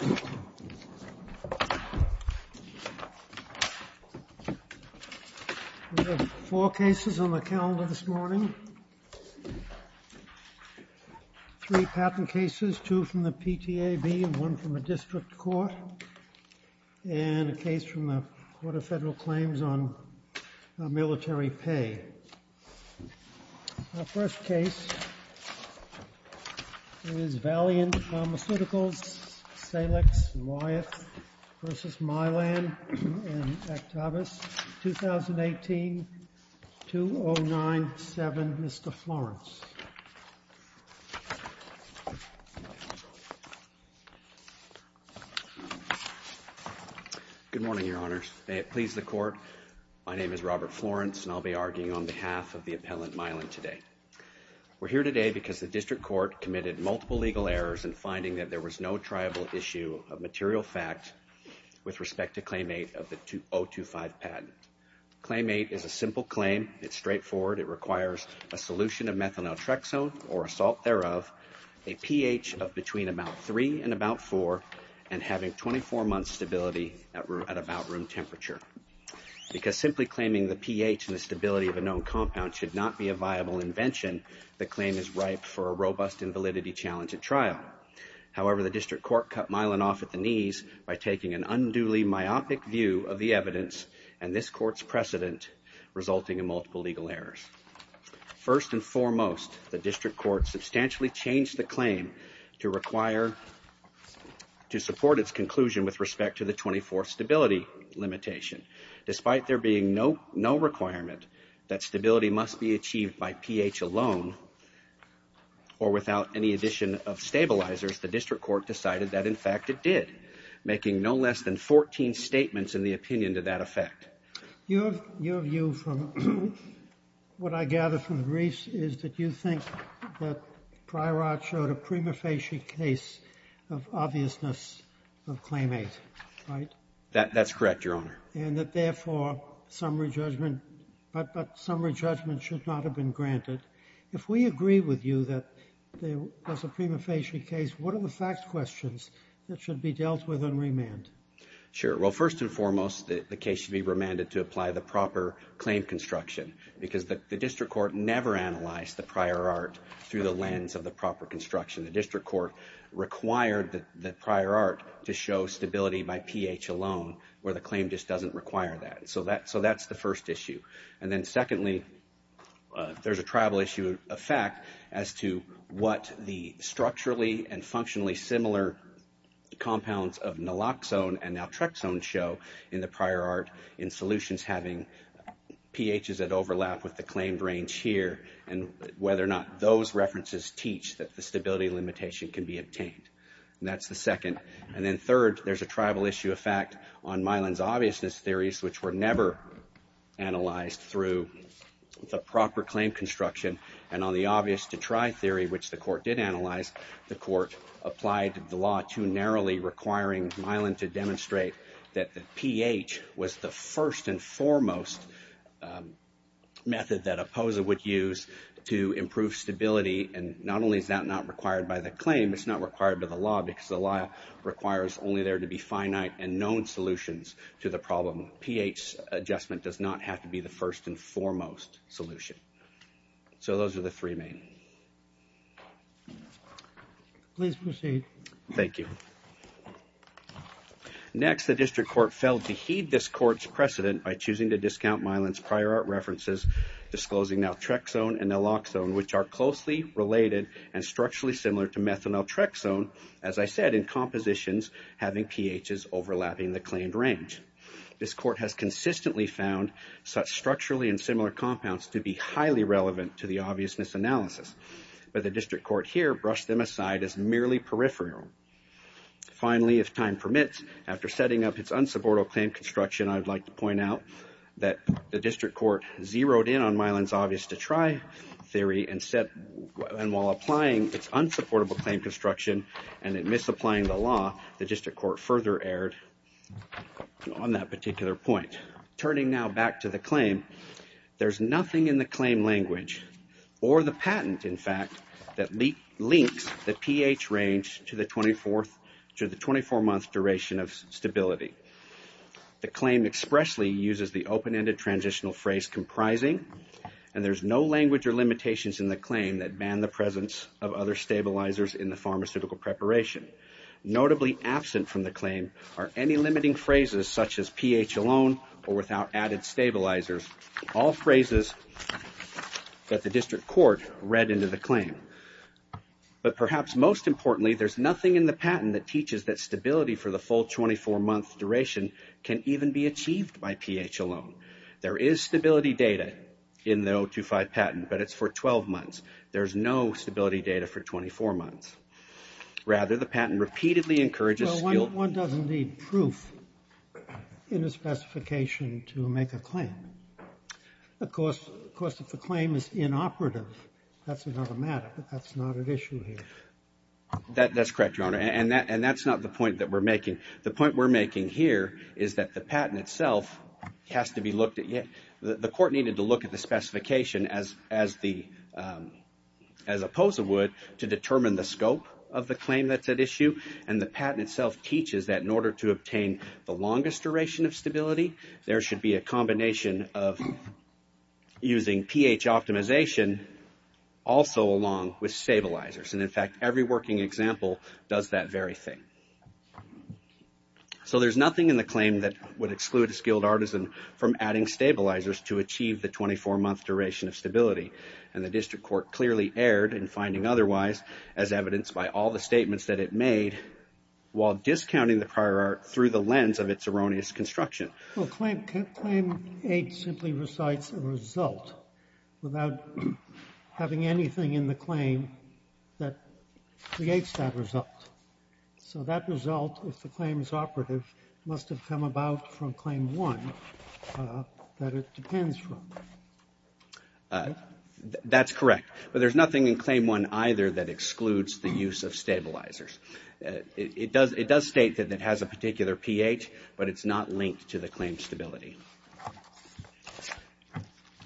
We have four cases on the calendar this morning, three patent cases, two from the PTAB, one from a district court, and a case from the Court of Federal Claims on military pay. Our first case is Valiant Pharmaceuticals, Salix, Wyeth v. Mylan and Aktavas, 2018-2097. Mr. Florence. Good morning, Your Honors. May it please the Court. My name is Robert Florence, and I'll be arguing on behalf of the appellant, Mylan, today. We're here today because the district court committed multiple legal errors in finding that there was no triable issue of material fact with respect to Claim 8 of the 025 patent. Claim 8 is a simple claim. It's straightforward. It requires a solution of methanoltrexone or a salt thereof, a pH of between about 3 and about 4, and having 24 months stability at about room temperature. Because simply claiming the pH and the stability of a known compound should not be a viable invention, the claim is ripe for a robust and validity-challenged trial. However, the district court cut Mylan off at the knees by taking an unduly myopic view of the evidence and this court's precedent, resulting in multiple legal errors. First and foremost, the district court substantially changed the claim to support its conclusion with respect to the 24th stability limitation. Despite there being no requirement that stability must be achieved by pH alone or without any addition of stabilizers, the district court decided that, in fact, it did, making no less than 14 statements in the opinion to that effect. Your view from what I gather from the briefs is that you think that Pryorart showed a prima facie case of obviousness of Claim 8, right? That's correct, Your Honor. And that, therefore, summary judgment, but summary judgment should not have been granted. If we agree with you that there was a prima facie case, what are the fact questions that should be dealt with on remand? Sure. Well, first and foremost, the case should be remanded to apply the proper claim construction because the district court never analyzed the Pryorart through the lens of the proper construction. The district court required the Pryorart to show stability by pH alone, where the claim just doesn't require that. So that's the first issue. And then, secondly, there's a tribal issue of fact as to what the structurally and functionally similar compounds of naloxone and naltrexone show in the Pryorart in solutions having pHs that overlap with the claimed range here and whether or not those references teach that the stability limitation can be obtained. That's the second. And then, third, there's a tribal issue of fact on Milan's obviousness theories, which were never analyzed through the proper claim construction. And on the obvious to try theory, which the court did analyze, the court applied the law to narrowly requiring Milan to demonstrate that the pH was the first and foremost method that a POSA would use to improve stability. And not only is that not required by the claim, it's not required by the law because the law requires only there to be finite and known solutions to the problem. pH adjustment does not have to be the first and foremost solution. So those are the three main. Please proceed. Thank you. Next, the district court failed to heed this court's precedent by choosing to discount Milan's Pryorart references disclosing naltrexone and naloxone, which are closely related and structurally similar to methanoltrexone, as I said, in compositions having pHs overlapping the claimed range. This court has consistently found such structurally and similar compounds to be highly relevant to the obviousness analysis, but the district court here brushed them aside as merely peripheral. Finally, if time permits, after setting up its unsupportable claim construction, I'd like to point out that the district court zeroed in on Milan's obvious to try theory and while applying its unsupportable claim construction and in misapplying the law, the On that particular point, turning now back to the claim, there's nothing in the claim language or the patent, in fact, that links the pH range to the 24-month duration of stability. The claim expressly uses the open-ended transitional phrase comprising, and there's no language or limitations in the claim that ban the presence of other stabilizers in the pharmaceutical preparation. Notably absent from the claim are any limiting phrases such as pH alone or without added stabilizers, all phrases that the district court read into the claim. But perhaps most importantly, there's nothing in the patent that teaches that stability for the full 24-month duration can even be achieved by pH alone. There is stability data in the 025 patent, but it's for 12 months. There's no stability data for 24 months. Rather, the patent repeatedly encourages... No, one doesn't need proof in a specification to make a claim. Of course, if the claim is inoperative, that's another matter, but that's not an issue here. That's correct, Your Honor, and that's not the point that we're making. The point we're making here is that the patent itself has to be looked at. The court needed to look at the specification as a POSA would to determine the scope of the claim that's at issue, and the patent itself teaches that in order to obtain the longest duration of stability, there should be a combination of using pH optimization also along with stabilizers, and in fact, every working example does that very thing. So there's nothing in the claim that would exclude a skilled artisan from adding stabilizers to achieve the 24-month duration of stability, and the district court clearly erred in finding otherwise as evidenced by all the statements that it made while discounting the prior art through the lens of its erroneous construction. Well, claim 8 simply recites a result without having anything in the claim that creates that result, so that result, if the claim is operative, must have come about from claim 1 that it depends from. That's correct, but there's nothing in claim 1 either that excludes the use of stabilizers. It does state that it has a particular pH, but it's not linked to the claim stability,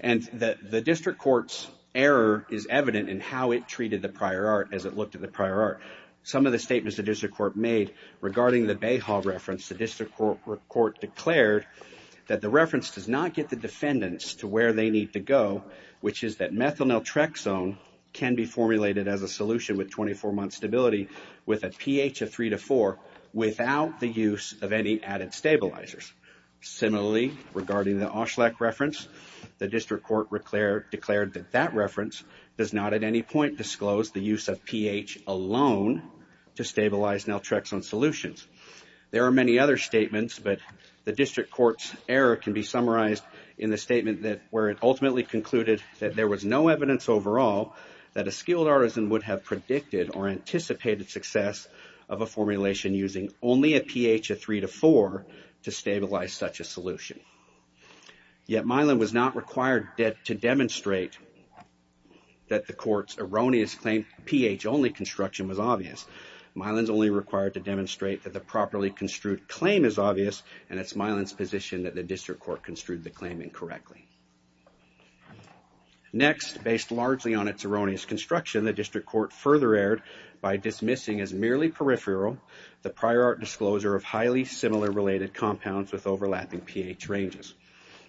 and the district court's error is evident in how it treated the prior art as it looked at the prior art. Some of the statements the district court made regarding the Bayhall reference, the district court declared that the reference does not get the defendants to where they need to go, which is that methyl naltrexone can be formulated as a solution with 24-month stability with a pH of 3 to 4 without the use of any added stabilizers. Similarly, regarding the Auschleck reference, the district court declared that that reference does not at any point disclose the use of pH alone to stabilize naltrexone solutions. There are many other statements, but the district court's error can be summarized in the statement where it ultimately concluded that there was no evidence overall that a skilled artisan would have predicted or anticipated success of a formulation using only a pH of 3 to 4 to stabilize such a solution. Yet Mylan was not required to demonstrate that the court's erroneous claim pH-only construction was obvious. Mylan's only required to demonstrate that the properly construed claim is obvious, and it's Mylan's position that the district court construed the claim incorrectly. Next, based largely on its erroneous construction, the district court further erred by dismissing as merely peripheral the prior art disclosure of highly similar related compounds with overlapping pH ranges.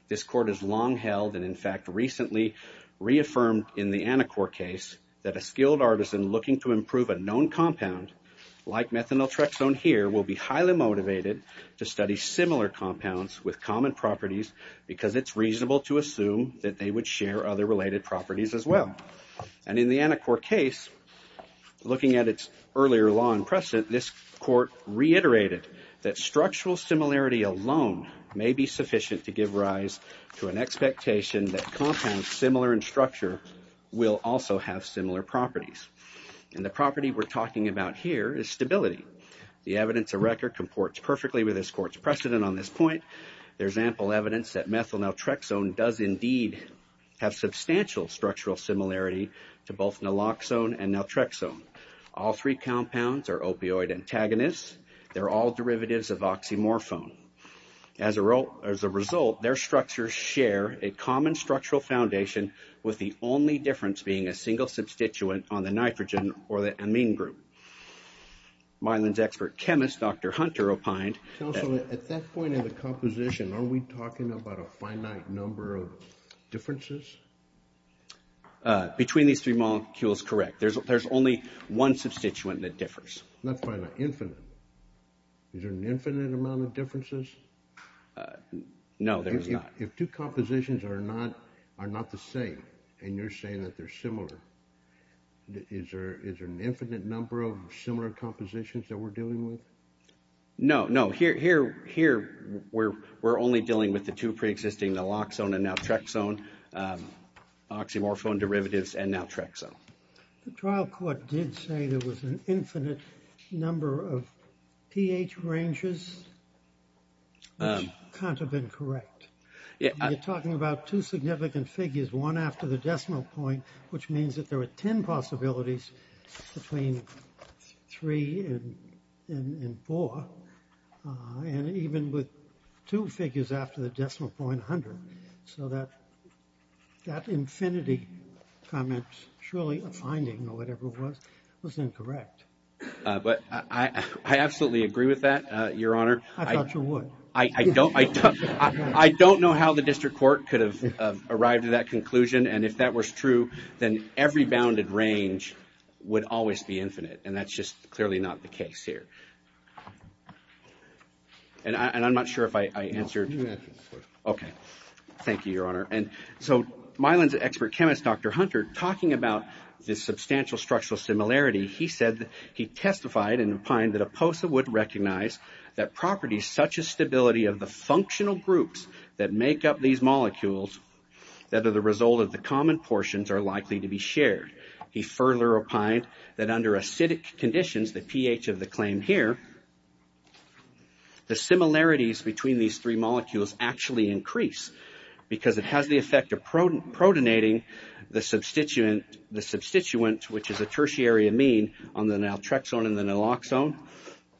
This court has long held and in fact recently reaffirmed in the Anacor case that a skilled artisan looking to improve a known compound like methanoltrexone here will be highly motivated to study similar compounds with common properties because it's reasonable to assume that they would share other related properties as well. And in the Anacor case, looking at its earlier law and precedent, this court reiterated that may be sufficient to give rise to an expectation that compounds similar in structure will also have similar properties. And the property we're talking about here is stability. The evidence of record comports perfectly with this court's precedent on this point. There's ample evidence that methanoltrexone does indeed have substantial structural similarity to both naloxone and naltrexone. All three compounds are opioid antagonists. They're all derivatives of oxymorphone. As a result, their structures share a common structural foundation with the only difference being a single substituent on the nitrogen or the amine group. Myland's expert chemist, Dr. Hunter, opined... Counselor, at that point in the composition, are we talking about a finite number of differences? Between these three molecules, correct. There's only one substituent that differs. Not finite, infinite. Is there an infinite amount of differences? No, there's not. If two compositions are not the same and you're saying that they're similar, is there an infinite number of similar compositions that we're dealing with? No, no. Here, we're only dealing with the two pre-existing naloxone and naltrexone, oxymorphone derivatives and naltrexone. The trial court did say there was an infinite number of pH ranges. That can't have been correct. You're talking about two significant figures, one after the decimal point, which means that there were 10 possibilities between 3 and 4, and even with two figures after the decimal point, 100, so that infinity comment, surely a finding or whatever it was, was incorrect. I absolutely agree with that, Your Honor. I thought you would. I don't know how the district court could have arrived at that conclusion, and if that was true, then every bounded range would always be infinite, and that's just clearly not the case here. And I'm not sure if I answered. No, you answered the question. Okay. Thank you, Your Honor. And so, Mylan's expert chemist, Dr. Hunter, talking about this substantial structural similarity, he said that he testified and opined that Oposa would recognize that properties such as stability of the functional groups that make up these molecules that are the result of the common portions are likely to be shared. He further opined that under acidic conditions, the pH of the claim here, the similarities between these three molecules actually increase because it has the effect of protonating the substituent, which is a tertiary amine on the naltrexone and the naloxone,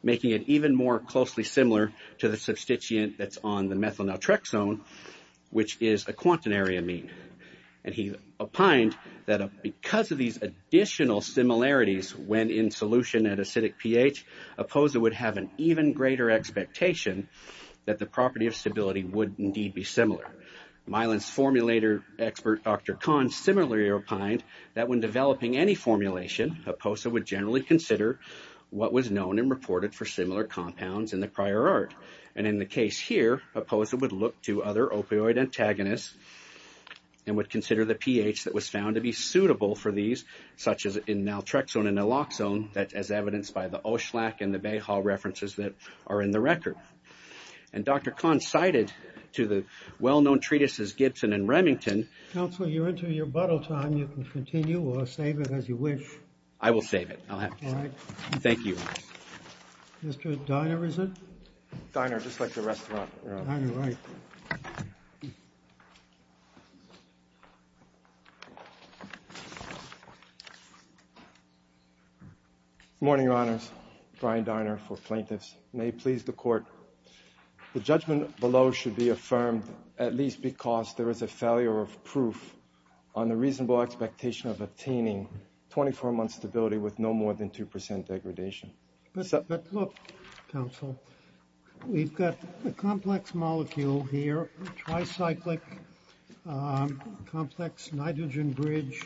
making it even more closely similar to the substituent that's on the methyl naltrexone, which is a quaternary amine. And he opined that because of these additional similarities when in solution at acidic pH, Oposa would have an even greater expectation that the property of stability would indeed be similar. Mylan's formulator expert, Dr. Kahn, similarly opined that when developing any formulation, Oposa would generally consider what was known and reported for similar compounds in the and would consider the pH that was found to be suitable for these, such as in naltrexone and naloxone, as evidenced by the Oschlack and the Bayhall references that are in the record. And Dr. Kahn cited to the well-known treatises Gibson and Remington. Counsel, you're into your bottle time. You can continue or save it as you wish. I will save it. I'll have it. All right. Thank you. Mr. Diner, is it? Diner, just like the rest of the room. Diner, right. Good morning, Your Honors. Brian Diner for plaintiffs. May it please the court, the judgment below should be affirmed at least because there is a failure of proof on the reasonable expectation of attaining 24-month stability with no more than 2% degradation. But look, counsel, we've got a complex molecule here, tricyclic complex nitrogen bridge.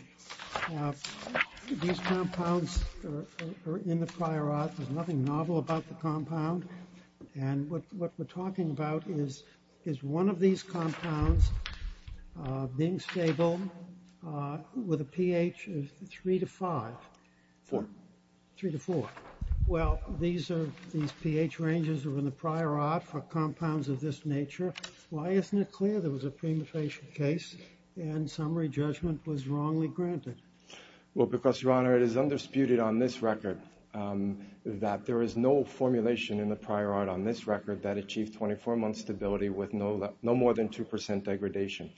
These compounds are in the prior art. There's nothing novel about the compound. And what we're talking about is one of these compounds being stable with a pH of 3 to 5. 4. 3 to 4. Well, these pH ranges are in the prior art for compounds of this nature. Why isn't it clear there was a premutation case and summary judgment was wrongly granted? Well, because, Your Honor, it is undisputed on this record that there is no formulation in the prior art on this record that achieved 24-month stability with no more than 2% degradation.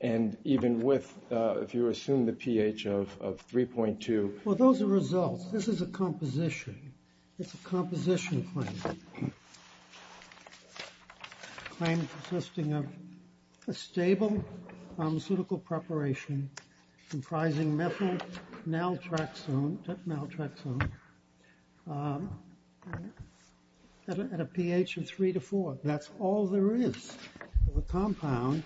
And even with, if you assume the pH of 3.2. Well, those are results. This is a composition. It's a composition claim, a claim consisting of a stable pharmaceutical preparation comprising methyl naltrexone at a pH of 3 to 4. That's all there is to a compound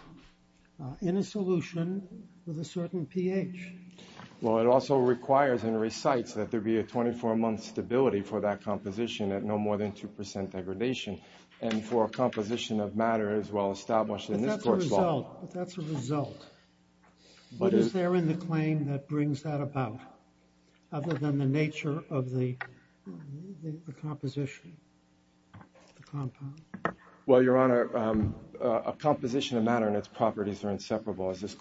in a solution with a certain pH. Well, it also requires and recites that there be a 24-month stability for that composition at no more than 2% degradation. And for a composition of matter as well established in this court's law. But that's a result. What is there in the claim that brings that about other than the nature of the composition? The compound. Well, Your Honor, a composition of matter and its properties are inseparable as this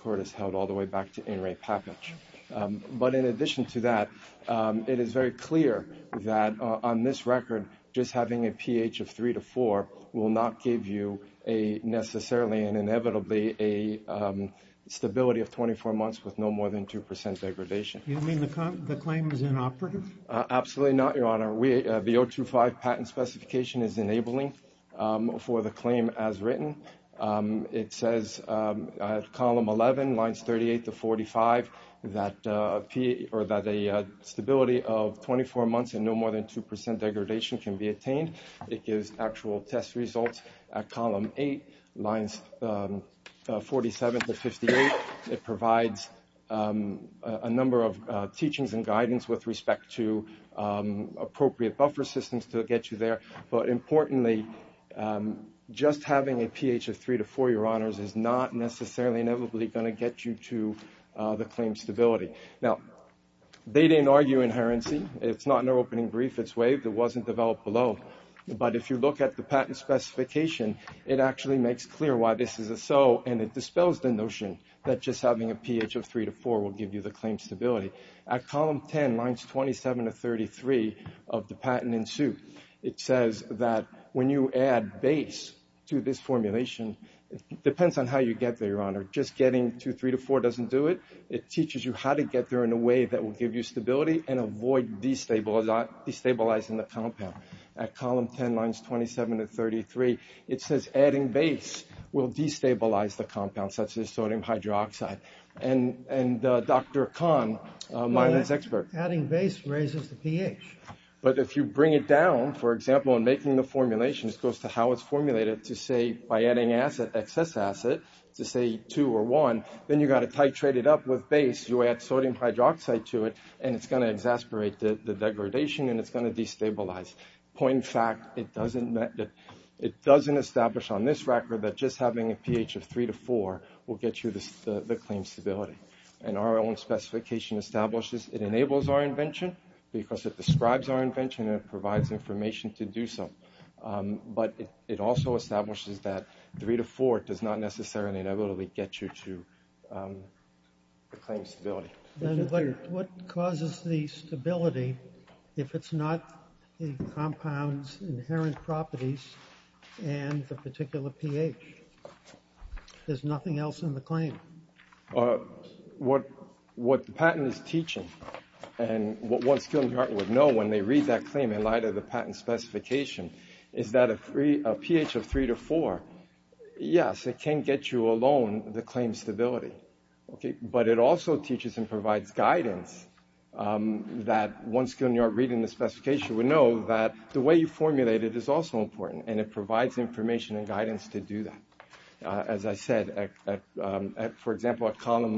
But in addition to that, it is very clear that on this record, just having a pH of 3 to 4 will not give you necessarily and inevitably a stability of 24 months with no more than 2% degradation. You mean the claim is inoperative? Absolutely not, Your Honor. The 025 patent specification is enabling for the claim as written. It says at column 11, lines 38 to 45, that a stability of 24 months and no more than 2% degradation can be attained. It gives actual test results at column 8, lines 47 to 58. It provides a number of teachings and guidance with respect to appropriate buffer systems to get you there. But importantly, just having a pH of 3 to 4, Your Honors, is not necessarily and inevitably going to get you to the claim stability. Now, they didn't argue inherency. It's not in their opening brief. It's waived. It wasn't developed below. But if you look at the patent specification, it actually makes clear why this is a so and it dispels the notion that just having a pH of 3 to 4 will give you the claim stability. At column 10, lines 27 to 33 of the patent in suit, it says that when you add base to this formulation, it depends on how you get there, Your Honor. Just getting to 3 to 4 doesn't do it. It teaches you how to get there in a way that will give you stability and avoid destabilizing the compound. At column 10, lines 27 to 33, it says adding base will destabilize the compound, such as sodium hydroxide. And Dr. Kahn, Mylan's expert. Adding base raises the pH. But if you bring it down, for example, in making the formulations, it goes to how it's formulated to say by adding excess acid to say 2 or 1, then you've got to titrate it up with base. You add sodium hydroxide to it, and it's going to exasperate the degradation, and it's going to destabilize. Point in fact, it doesn't establish on this record that just having a pH of 3 to 4 will get you the claim stability. And our own specification establishes it enables our invention because it describes our invention and it provides information to do so. But it also establishes that 3 to 4 does not necessarily inevitably get you to the claim stability. What causes the stability if it's not the compound's inherent properties and the particular pH? There's nothing else in the claim. What the patent is teaching and what one skilled New Yorker would know when they read that claim in light of the patent specification is that a pH of 3 to 4, yes, it can get you alone the claim stability. But it also teaches and provides guidance that one skilled New Yorker reading the specification would know that the way you formulate it is also important, and it provides information and guidance to do that. As I said, for example, at Column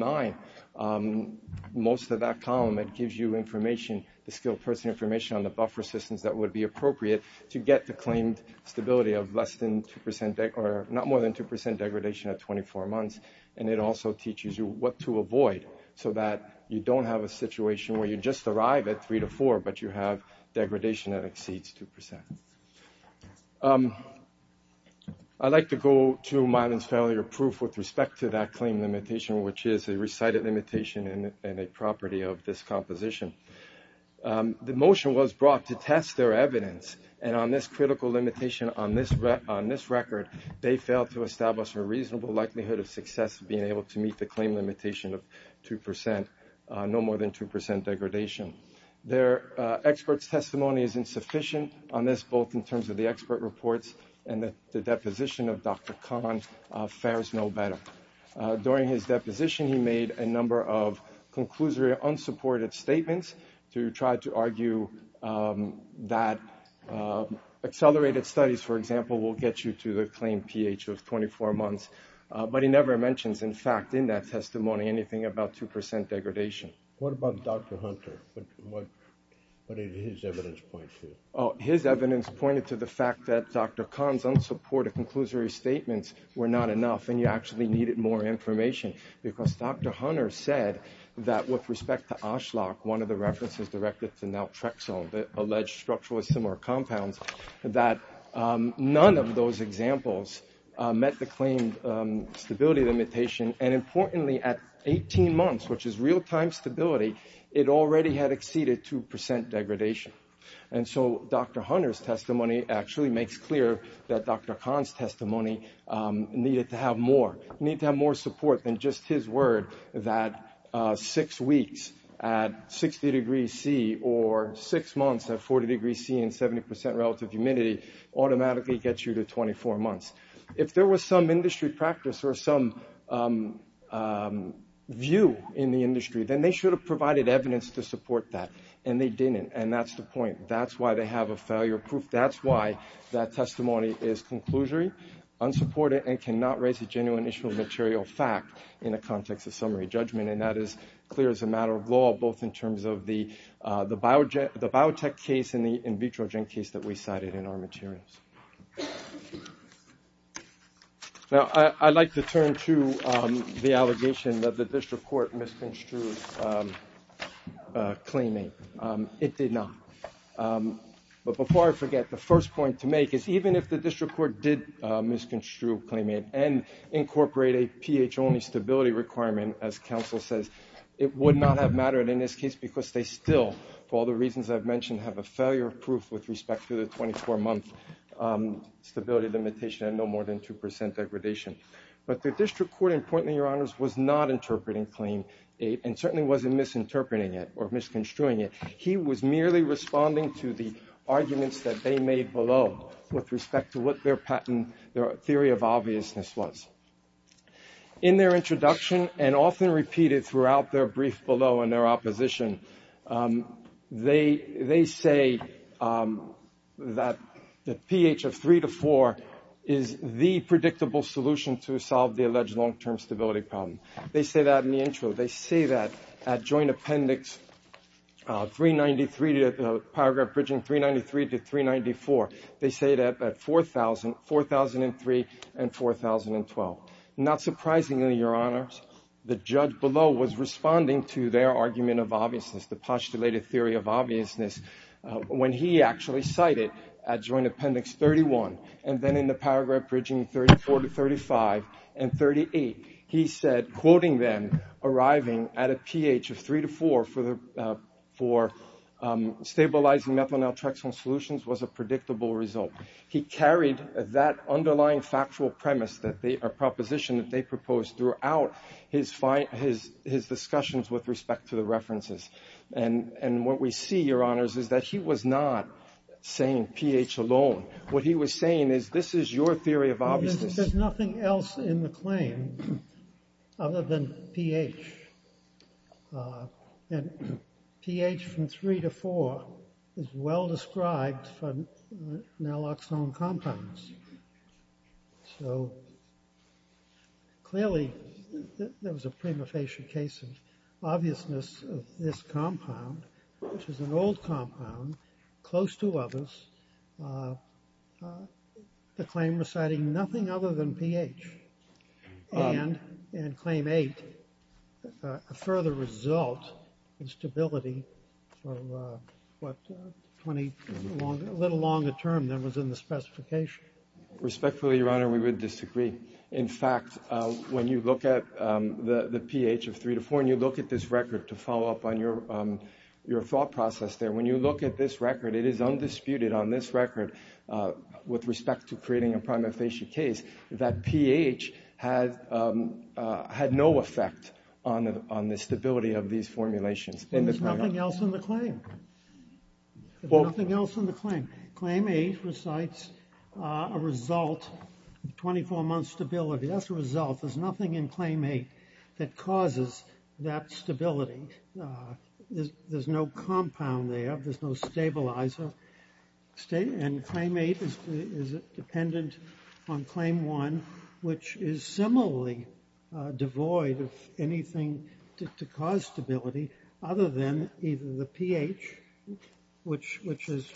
9, most of that column, it gives you information, the skilled person information on the buffer systems that would be appropriate to get the claimed stability of less than 2% or not more than 2% degradation at 24 months. And it also teaches you what to avoid so that you don't have a situation where you just arrive at 3 to 4, but you have degradation that exceeds 2%. I'd like to go to Milan's failure proof with respect to that claim limitation, which is a recited limitation and a property of this composition. The motion was brought to test their evidence, and on this critical limitation, on this record, they failed to establish a reasonable likelihood of success of being able to meet the claim limitation of 2%, no more than 2% degradation. Their expert's testimony is insufficient on this, both in terms of the expert reports and that the deposition of Dr. Kahn fares no better. During his deposition, he made a number of conclusory unsupported statements to try to argue that accelerated studies, for example, will get you to the claimed pH of 24 months. But he never mentions, in fact, in that testimony anything about 2% degradation. What about Dr. Hunter? What did his evidence point to? His evidence pointed to the fact that Dr. Kahn's unsupported conclusory statements were not enough, and you actually needed more information, because Dr. Hunter said that with respect to Oshlock, one of the references directed to naltrexone, the alleged structurally similar compounds, that none of those examples met the claimed stability limitation. And importantly, at 18 months, which is real-time stability, it already had exceeded 2% degradation. And so Dr. Hunter's testimony actually makes clear that Dr. Kahn's testimony needed to have more support than just his word that six weeks at 60 degrees C or six months at 40 degrees C and 70% relative humidity automatically gets you to 24 months. If there was some industry practice or some view in the industry, then they should have provided evidence to support that, and they didn't, and that's the point. That's why they have a failure proof. That's why that testimony is conclusory, unsupported, and cannot raise a genuine issue of material fact in the context of summary judgment, and that is clear as a matter of law, both in terms of the biotech case and the in vitro gen case that we cited in our materials. Now, I'd like to turn to the allegation that the district court misconstrued claiming. It did not. But before I forget, the first point to make is even if the district court did misconstrue claiming and incorporate a pH-only stability requirement, as counsel says, it would not have mattered in this case because they still, for all the reasons I've mentioned, have a failure proof with respect to the 24-month stability limitation and no more than 2% degradation. But the district court, importantly, Your Honors, was not interpreting Claim 8 and certainly wasn't misinterpreting it or misconstruing it. He was merely responding to the arguments that they made below with respect to what their theory of obviousness was. In their introduction and often repeated throughout their brief below in their opposition, they say that the pH of 3 to 4 is the predictable solution to solve the alleged long-term stability problem. They say that in the intro. They say that at Joint Appendix 393, Paragraph Bridging 393 to 394, they say that at 4003 and 4012. Not surprisingly, Your Honors, the judge below was responding to their argument of obviousness, the postulated theory of obviousness, when he actually cited at Joint Appendix 31 and then in the Paragraph Bridging 34 to 35 and 38, he said, quoting them, arriving at a pH of 3 to 4 for stabilizing methyl naltrexone solutions was a predictable result. He carried that underlying factual premise, a proposition that they proposed throughout his discussions with respect to the references. And what we see, Your Honors, is that he was not saying pH alone. What he was saying is this is your theory of obviousness. There's nothing else in the claim other than pH. And pH from 3 to 4 is well described for naloxone compounds. So, clearly, there was a prima facie case of obviousness of this compound, which is an old compound, close to others, the claim reciting nothing other than pH. And in Claim 8, a further result in stability of what 20, a little longer term than was in the specification. Respectfully, Your Honor, we would disagree. In fact, when you look at the pH of 3 to 4 and you look at this record to follow up on your thought process there, when you look at this record, it is undisputed on this record with respect to creating a prima facie case that pH had no effect on the stability of these formulations. There's nothing else in the claim. There's nothing else in the claim. Claim 8 recites a result of 24 months stability. That's the result. There's nothing in Claim 8 that causes that stability. There's no compound there. There's no stabilizer. And Claim 8 is dependent on Claim 1, which is similarly devoid of anything to cause stability, other than either the pH, which is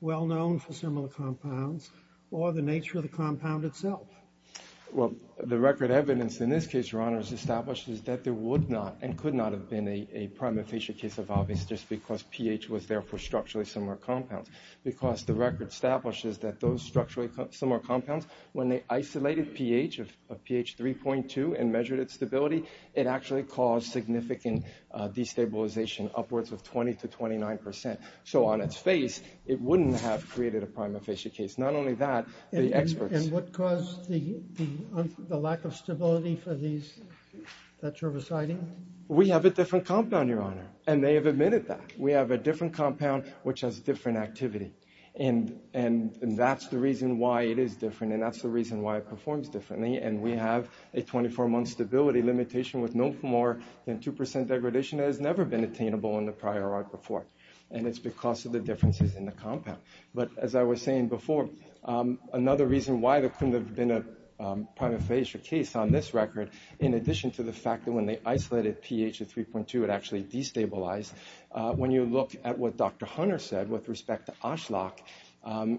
well known for similar compounds, or the nature of the compound itself. Well, the record evidence in this case, Your Honor, is established that there would not and could not have been a prima facie case of obvious just because pH was there for structurally similar compounds. Because the record establishes that those structurally similar compounds, when they isolated pH of pH 3.2 and measured its stability, it actually caused significant destabilization upwards of 20 to 29 percent. So on its face, it wouldn't have created a prima facie case. Not only that, the experts… The lack of stability for these that you're reciting? We have a different compound, Your Honor. And they have admitted that. We have a different compound, which has different activity. And that's the reason why it is different. And that's the reason why it performs differently. And we have a 24-month stability limitation with no more than 2 percent degradation that has never been attainable in the prior art before. And it's because of the differences in the compound. But as I was saying before, another reason why there couldn't have been a prima facie case on this record, in addition to the fact that when they isolated pH of 3.2, it actually destabilized, when you look at what Dr. Hunter said with respect to Oshlock,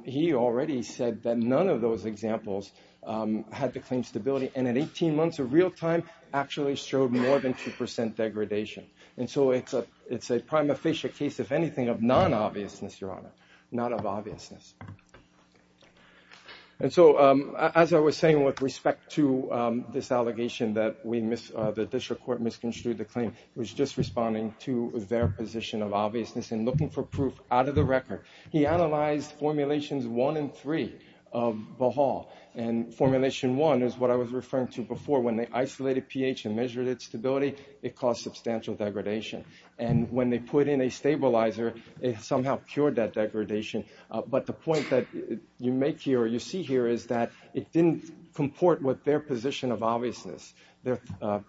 he already said that none of those examples had the claimed stability. And in 18 months of real time, actually showed more than 2 percent degradation. And so it's a prima facie case, if anything, of non-obviousness, Your Honor. Not of obviousness. And so as I was saying with respect to this allegation that the district court misconstrued the claim, it was just responding to their position of obviousness and looking for proof out of the record. He analyzed Formulations 1 and 3 of Bohal. And Formulation 1 is what I was referring to before. When they isolated pH and measured its stability, it caused substantial degradation. And when they put in a stabilizer, it somehow cured that degradation. But the point that you make here or you see here is that it didn't comport with their position of obviousness. Their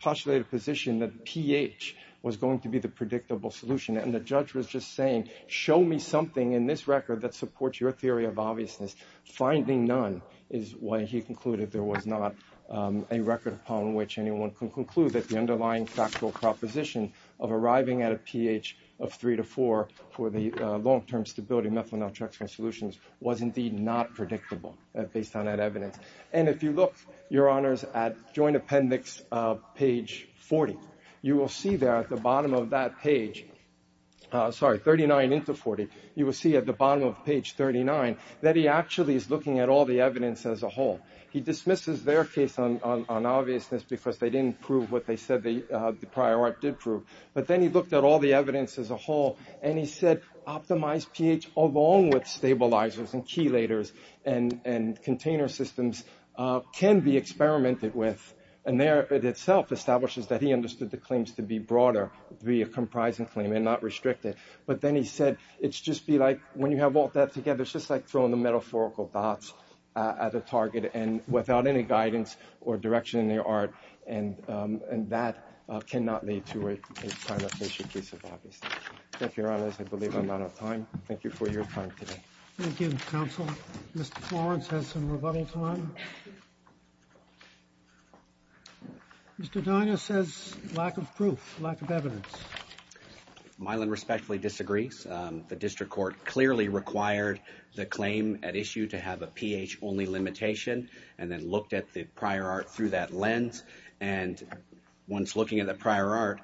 postulated position that pH was going to be the predictable solution. And the judge was just saying, show me something in this record that supports your theory of obviousness. Finding none is why he concluded there was not a record upon which anyone can conclude that the underlying factual proposition of arriving at a pH of 3 to 4 for the long-term stability methyltrexone solutions was indeed not predictable based on that evidence. And if you look, Your Honors, at Joint Appendix page 40, you will see there at the bottom of that page, sorry, 39 into 40, you will see at the bottom of page 39 that he actually is looking at all the evidence as a whole. He dismisses their case on obviousness because they didn't prove what they said the prior art did prove. But then he looked at all the evidence as a whole and he said, optimize pH along with stabilizers and chelators and container systems can be experimented with. And there it itself establishes that he understood the claims to be broader, to be a comprising claim and not restricted. But then he said, it's just be like when you have all that together, it's just like throwing the metaphorical dots at a target and without any guidance or direction in their art. And that cannot lead to a kind of fictitious case of obviousness. Thank you, Your Honors. I believe I'm out of time. Thank you for your time today. Thank you, Counsel. Mr. Florence has some rebuttal time. Mr. Dinah says lack of proof, lack of evidence. Mylan respectfully disagrees. The district court clearly required the claim at issue to have a pH only limitation and then looked at the prior art through that lens. And once looking at the prior art,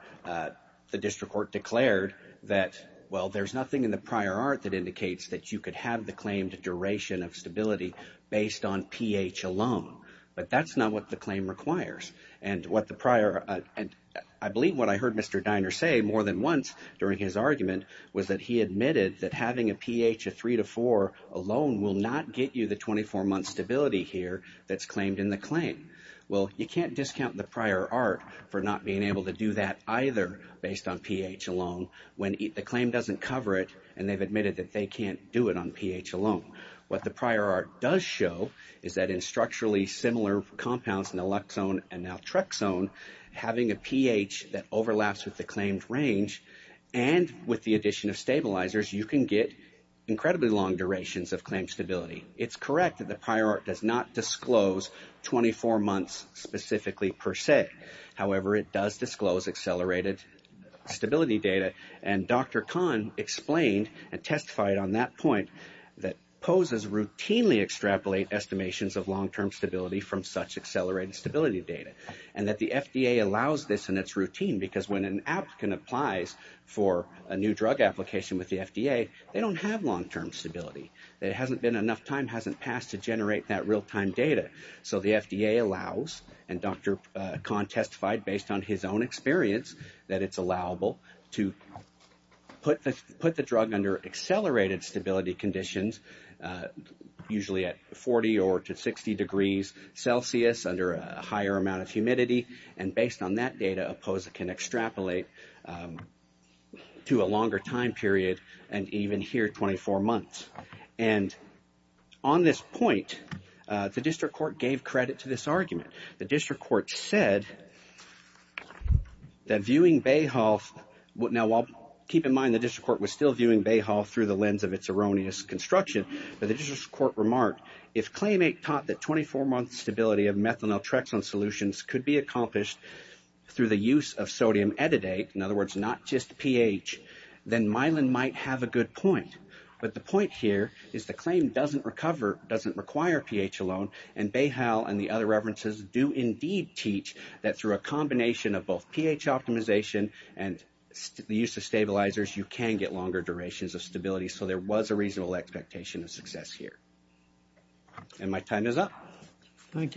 the district court declared that, well, there's nothing in the prior art that indicates that you could have the claimed duration of stability based on pH alone. But that's not what the claim requires. And what the prior and I believe what I heard Mr. Diner say more than once during his argument was that he admitted that having a pH of three to four alone will not get you the 24 month stability here that's claimed in the claim. Well, you can't discount the prior art for not being able to do that either based on pH alone when the claim doesn't cover it and they've admitted that they can't do it on pH alone. What the prior art does show is that in structurally similar compounds, naloxone and naltrexone, having a pH that overlaps with the claimed range and with the addition of stabilizers, you can get incredibly long durations of claim stability. It's correct that the prior art does not disclose 24 months specifically per se. However, it does disclose accelerated stability data. And Dr. Kahn explained and testified on that point that FDA proposes routinely extrapolate estimations of long term stability from such accelerated stability data. And that the FDA allows this and it's routine because when an applicant applies for a new drug application with the FDA, they don't have long term stability. There hasn't been enough time hasn't passed to generate that real time data. So the FDA allows and Dr. Kahn testified based on his own experience that it's allowable to put the drug under accelerated stability conditions, usually at 40 or to 60 degrees Celsius under a higher amount of humidity. And based on that data, APOSA can extrapolate to a longer time period and even here 24 months. And on this point, the district court gave credit to this argument. The district court said that viewing Bayhoff. Now, I'll keep in mind the district court was still viewing Bayhoff through the lens of its erroneous construction. But the district court remarked, if claimant taught that 24 months stability of methanol Trexan solutions could be accomplished through the use of sodium ettodate, in other words, not just pH, then myelin might have a good point. But the point here is the claim doesn't recover, doesn't require pH alone. And Bayhoff and the other references do indeed teach that through a combination of both pH optimization and the use of stabilizers, you can get longer durations of stability. So there was a reasonable expectation of success here. And my time is up. Thank you.